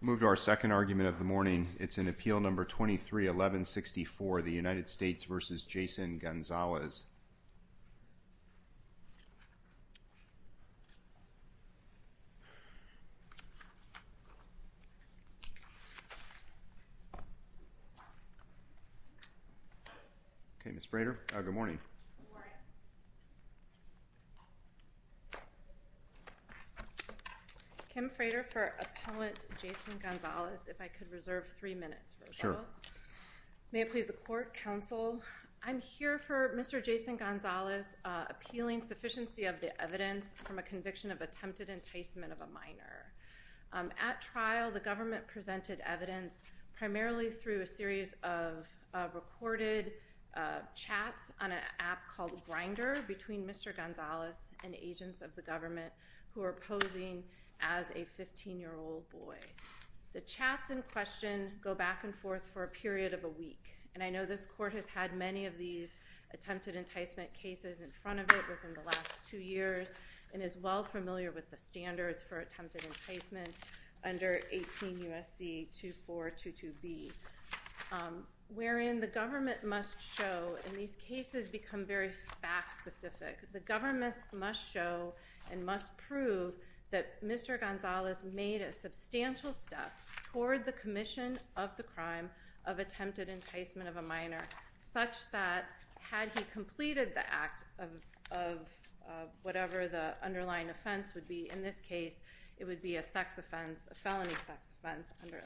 moved our second argument of the morning it's an appeal number 23 1164 the United States versus Jason Gonzalez okay miss Frater good morning Kim Frater for appellant Jason Gonzalez if I could reserve three minutes for sure may it please the court counsel I'm here for mr. Jason Gonzalez appealing sufficiency of the evidence from a conviction of attempted enticement of a minor at trial the government presented evidence primarily through a series of recorded chats on an app called grinder between mr. Gonzalez and agents of the government who are posing as a 15 year old boy the chats in question go back and forth for a period of a week and I believe that Mr. Gonzalez is familiar with the attempted enticement cases in front of it within the last two years and is well familiar with the standards for attempted enticement under 18 USC 2 4 2 2 B wherein the government must show in these cases become very fact-specific the government must show and must prove that mr. Gonzalez made a substantial step toward the commission of the crime of attempted enticement of a minor such that had he completed the act of whatever the underlying offense would be in this case it would be a sex offense a felony sex offense under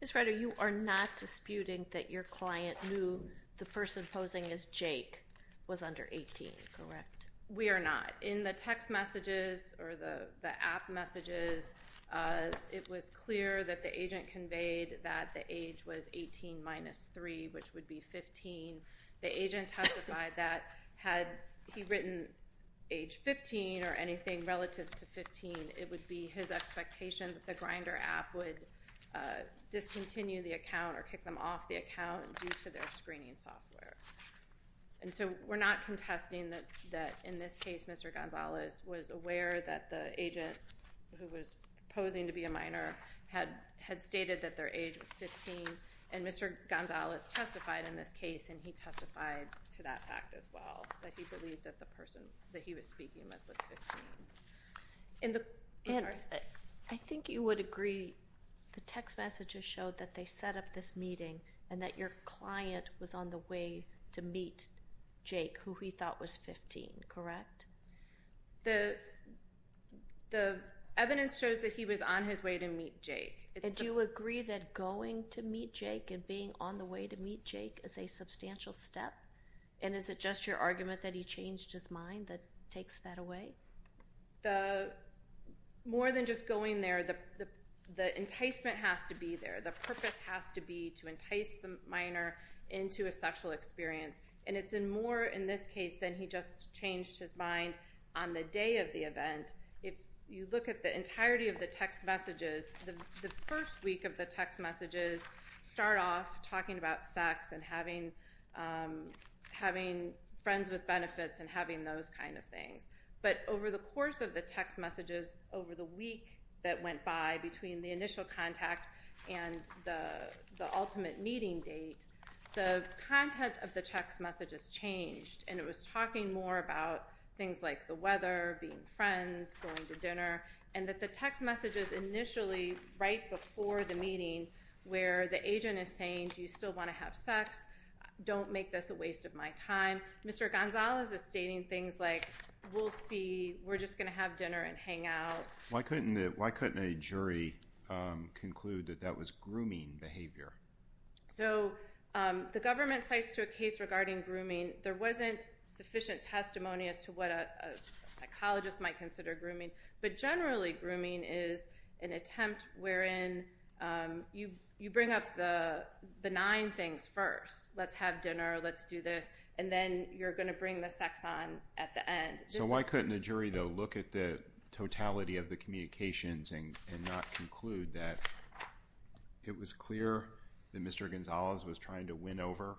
this writer you are not disputing that your client knew the person posing as Jake was under 18 correct we are not in the text messages or the app messages it was clear that the agent conveyed that the age was 18 minus 3 which would be 15 the agent testified that had he written age 15 or anything relative to 15 it would be his expectation that the grinder app would discontinue the account or kick them off the account to their screening software and so we're not contesting that that in this case mr. Gonzalez was aware that the agent who was posing to be a minor had had stated that their age was 15 and mr. Gonzalez testified in this case and he testified to that fact as well that he believed that the person that he was speaking with was 15 in the end I think you would agree the text messages showed that they set up this meeting and that your client was on the way to meet Jake who he thought was 15 correct the the evidence shows that he was on his way to meet Jake and you agree that going to meet Jake and being on the way to meet Jake as a substantial step and is it just your argument that he changed his mind that takes that away the more than just going there the the enticement has to be there the purpose has to be to get the minor into a sexual experience and it's in more in this case than he just changed his mind on the day of the event if you look at the entirety of the text messages the first week of the text messages start off talking about sex and having having friends with benefits and having those kind of things but over the course of the text messages over the week that went by between the initial contact and the the ultimate meeting date the content of the text messages changed and it was talking more about things like the weather being friends going to dinner and that the text messages initially right before the meeting where the agent is saying do you still want to have sex don't make this a waste of my time Mr. Gonzalez is stating things like we'll see we're just going to have conclude that that was grooming behavior so the government cites to a case regarding grooming there wasn't sufficient testimony as to what a psychologist might consider grooming but generally grooming is an attempt wherein you you bring up the benign things first let's have dinner let's do this and then you're going to bring the sex on at the end so why couldn't a jury though look at the mentality of the communications and not conclude that it was clear that Mr. Gonzalez was trying to win over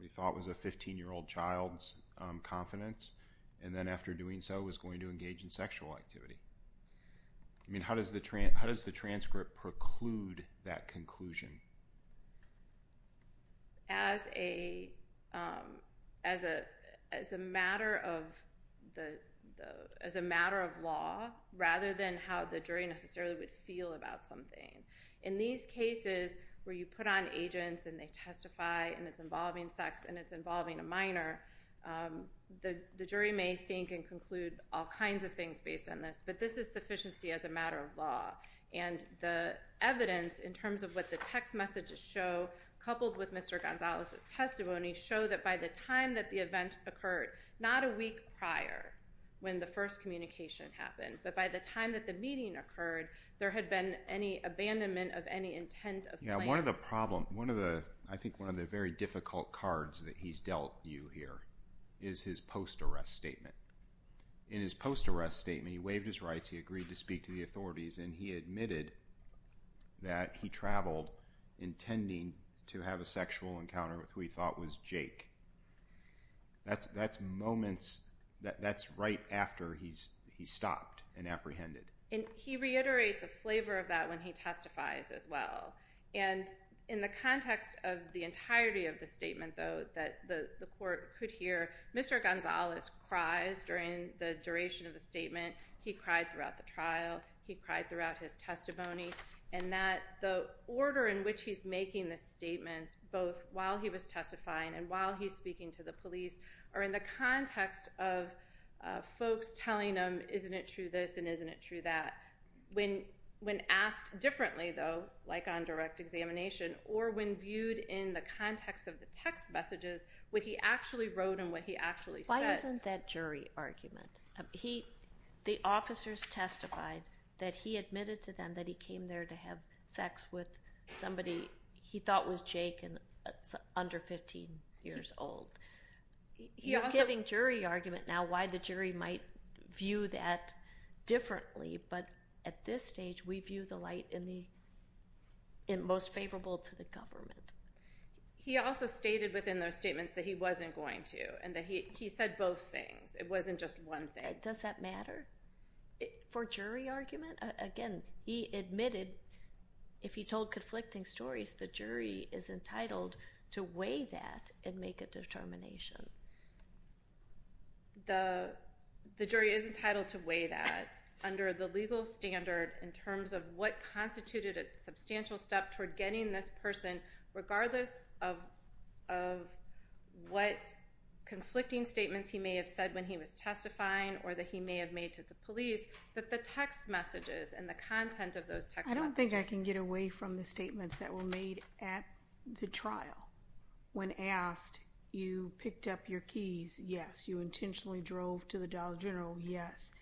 we thought was a 15 year old child's confidence and then after doing so was going to engage in sexual activity I mean how does the train how does the transcript preclude that conclusion as a as a as a matter of the as a matter of law rather than how the jury necessarily would feel about something in these cases where you put on agents and they testify and it's involving sex and it's involving a minor the jury may think and conclude all kinds of things based on this but this is sufficiency as a matter of law and the evidence in terms of what the text messages show coupled with Mr. Gonzalez's testimony show that by the time that the event occurred not a week prior when the first communication happened but by the time that the meeting occurred there had been any abandonment of any intent of you know one of the problem one of the I think one of the very difficult cards that he's dealt you here is his post arrest statement in his post arrest statement he waived his rights he agreed to speak to the authorities and he admitted that he traveled intending to have a sexual encounter with who he thought was Jake that's that's moments that that's right after he's he stopped and apprehended and he reiterates a flavor of that when he testifies as well and in the context of the entirety of the statement though that the court could hear Mr. Gonzalez cries during the duration of the statement he cried throughout the trial he cried throughout his testimony and that the order in which he's making the statements both while he was testifying and while he's speaking to the police or in the context of folks telling them isn't it true this and isn't it true that when when asked differently though like on direct examination or when viewed in the context of the text messages what he actually wrote and what he actually said isn't that jury argument he the officers testified that he admitted to them that he came there to have sex with somebody he thought was Jake and under 15 years old he also having jury argument now why the jury might view that differently but at this stage we view the light in the in most favorable to the government he also stated within those statements that he wasn't going to and that he he said both things it wasn't just one thing does that matter for jury argument again he admitted if he told conflicting stories the jury is entitled to weigh that and make a determination the jury is entitled to weigh that under the legal standard in terms of what constituted a substantial step toward getting this person regardless of of what conflicting statements he may have said when he was testifying or that he may have made to the police that the text messages and the content of those text I don't think I can get away from the statements that were made at the trial when asked you picked up your keys yes you intentionally drove to the dollar general yes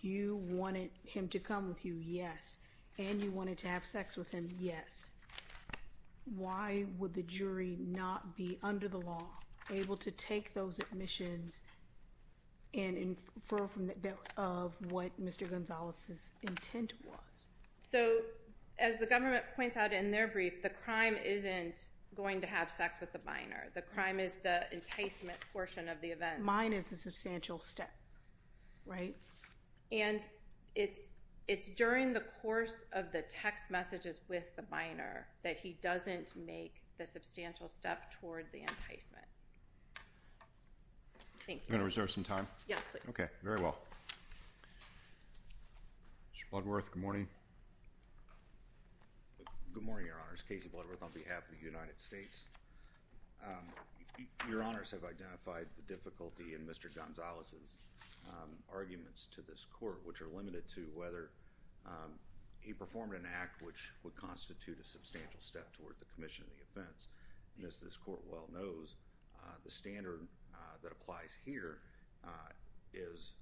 you wanted him to come with you yes and you wanted to have sex with him yes why would the jury not be under the law able to take those admissions and for that of what Mr. Gonzalez's intent was so as the government points out in their brief the crime isn't going to have sex with the minor the crime is the enticement portion of the event mine is the substantial step right and it's it's during the course of the text messages with the minor that he doesn't make the substantial step toward the enticement thank you gonna reserve some time yes okay very well Mr. Bloodworth good morning good morning your honors Casey Bloodworth on behalf of the United States your honors have identified the difficulty in Mr. Gonzalez's arguments to this court which are limited to whether he performed an act which would constitute a substantial step toward the Commission of the offense and as this court well knows the standard that applies here is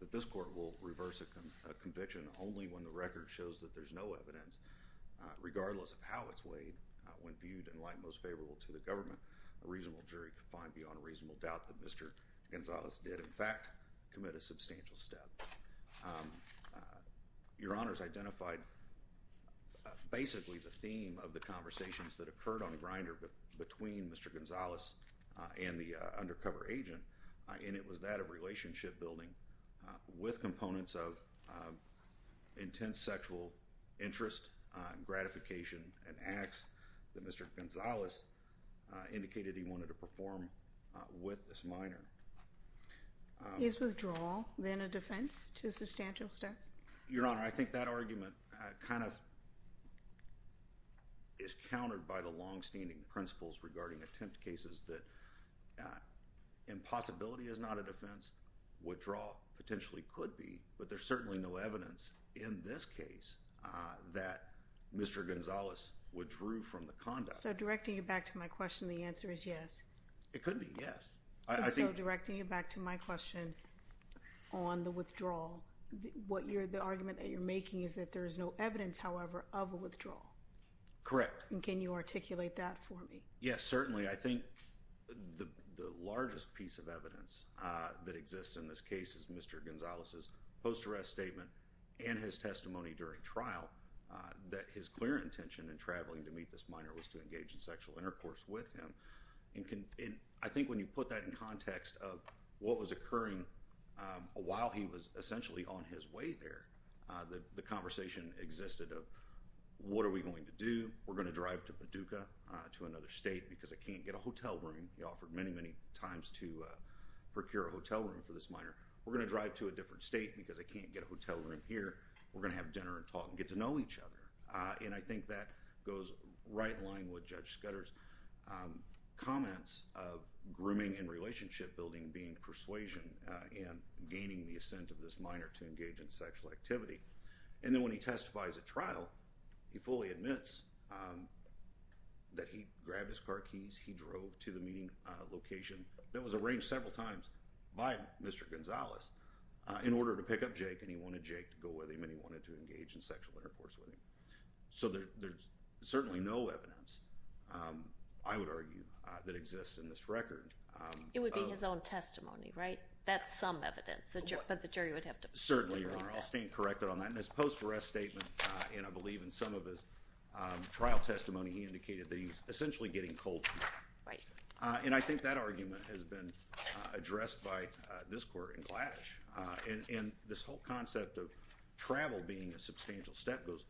that this court will reverse a conviction only when the record shows that there's no evidence regardless of how it's weighed when viewed in light most favorable to the government a reasonable jury could find beyond a reasonable doubt that Mr. Gonzalez did in fact commit a substantial step your honors identified basically the theme of the conversations that occurred on a grinder but between Mr. Gonzalez and the undercover agent and it was that of relationship building with components of intense sexual interest gratification and acts that Mr. Gonzalez indicated he wanted to perform with this minor is withdrawal then a defense to substantial step your honor I think that argument kind of is countered by the long-standing principles regarding attempt cases that impossibility is not a defense withdraw potentially could be but there's certainly no evidence in this case that Mr. Gonzalez withdrew from the conduct so directing you back to my question the answer is yes it could be yes I think directing you back to my question on the withdrawal what you're the argument that you're making is that there is no evidence however of a withdrawal correct and can you articulate that for me yes certainly I think the the largest piece of evidence that exists in this case is mr. Gonzalez's post arrest statement and his testimony during trial that his clear intention and traveling to meet this minor was to engage in sexual intercourse with him and can in I think when you put that in context of what was occurring while he was essentially on his way there the conversation existed of what are we going to do we're going to drive to Paducah to another state because I can't get a hotel room he offered many many times to procure a hotel room for this minor we're going to drive to a different state because I can't get a hotel room here we're going to have dinner and talk and get to know each other and I think that goes right line with judge Scudder's comments of grooming and relationship building being persuasion and gaining the assent of this minor to engage in sexual activity and then when he testifies at trial he fully admits that he grabbed his car keys he drove to the meeting location that was arranged several times by mr. Gonzalez in order to pick up Jake and he wanted Jake to go with him and he wanted to engage in sexual intercourse with him so there's certainly no evidence I would argue that exists in this record it would be his own testimony right that's some evidence that you're but the jury would have to certainly your honor I'll stand corrected on that in this post arrest statement and I believe in some of his trial testimony he indicated that he's essentially getting cold feet right and I think that argument has been addressed by this court in Gladysh and in this whole concept of travel being a substantial step goes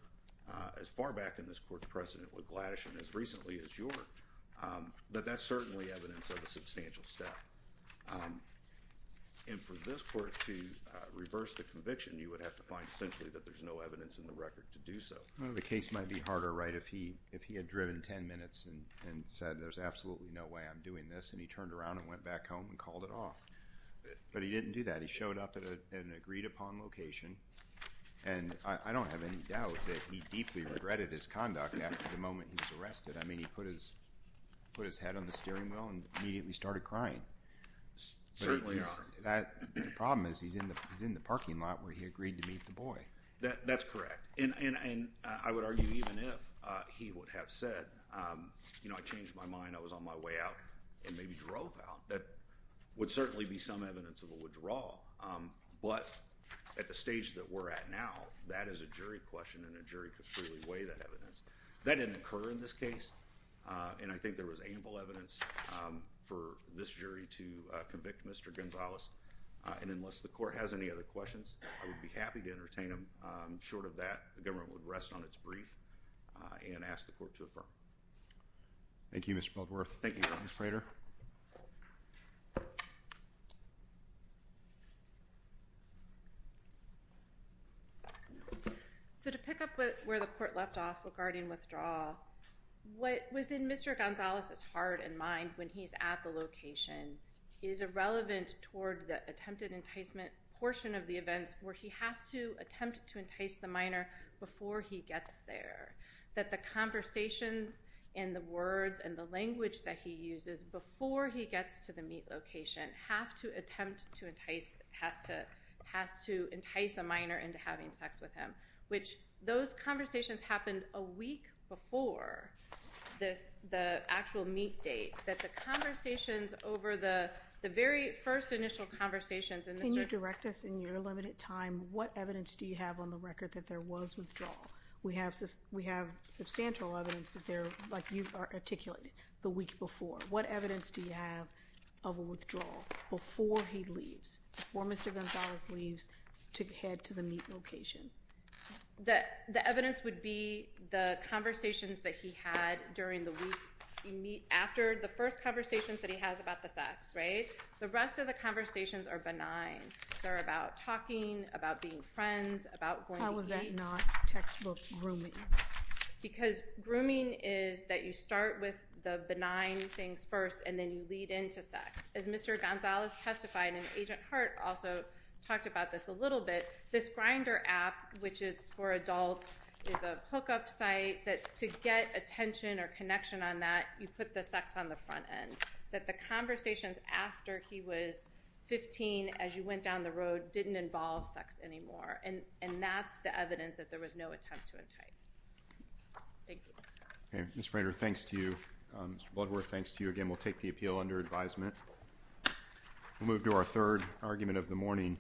as far back in this court's precedent with Gladysh and as recently as your but that's certainly evidence of a substantial step and for this court to reverse the conviction you would have to find essentially that there's no evidence in the record to do so the case might be harder right if he if he had driven 10 minutes and said there's absolutely no way I'm doing this and he turned around and went back home and called it off but he didn't do that he showed up at an agreed-upon location and I don't have any doubt that he deeply regretted his conduct after the moment he was arrested I mean he put his put his head on the steering wheel and immediately started crying certainly that problem is he's in the he's in the parking lot where he agreed to meet the boy that that's correct and and I would argue even if he would have said you drove out that would certainly be some evidence of a withdrawal but at the stage that we're at now that is a jury question and a jury could fully weigh that evidence that didn't occur in this case and I think there was ample evidence for this jury to convict mr. Gonzalez and unless the court has any other questions I would be happy to entertain him short of that the government would rest on its brief and ask the court to affirm thank you mr. so to pick up with where the court left off regarding withdrawal what was in mr. Gonzalez's heart and mind when he's at the location is irrelevant toward the attempted enticement portion of the events where he has to attempt to entice the minor before he gets there that the conversations in the words and language that he uses before he gets to the meat location have to attempt to entice has to has to entice a minor into having sex with him which those conversations happened a week before this the actual meat date that the conversations over the very first initial conversations and you direct us in your limited time what evidence do you have on the record that there was withdrawal we have we have substantial evidence that they're like you articulated the week before what evidence do you have of a withdrawal before he leaves before mr. Gonzalez leaves to head to the meat location that the evidence would be the conversations that he had during the week you meet after the first conversations that he has about the sex right the rest of the conversations are benign they're about talking about being friends about how start with the benign things first and then you lead into sex as mr. Gonzalez testified in Agent Hart also talked about this a little bit this grinder app which is for adults is a hookup site that to get attention or connection on that you put the sex on the front end that the conversations after he was 15 as you went down the road didn't involve sex anymore and and that's the evidence that there was no attempt to entice mr. Frazier thanks to you what were thanks to you again we'll take the appeal under advisement we'll move to our third argument of the morning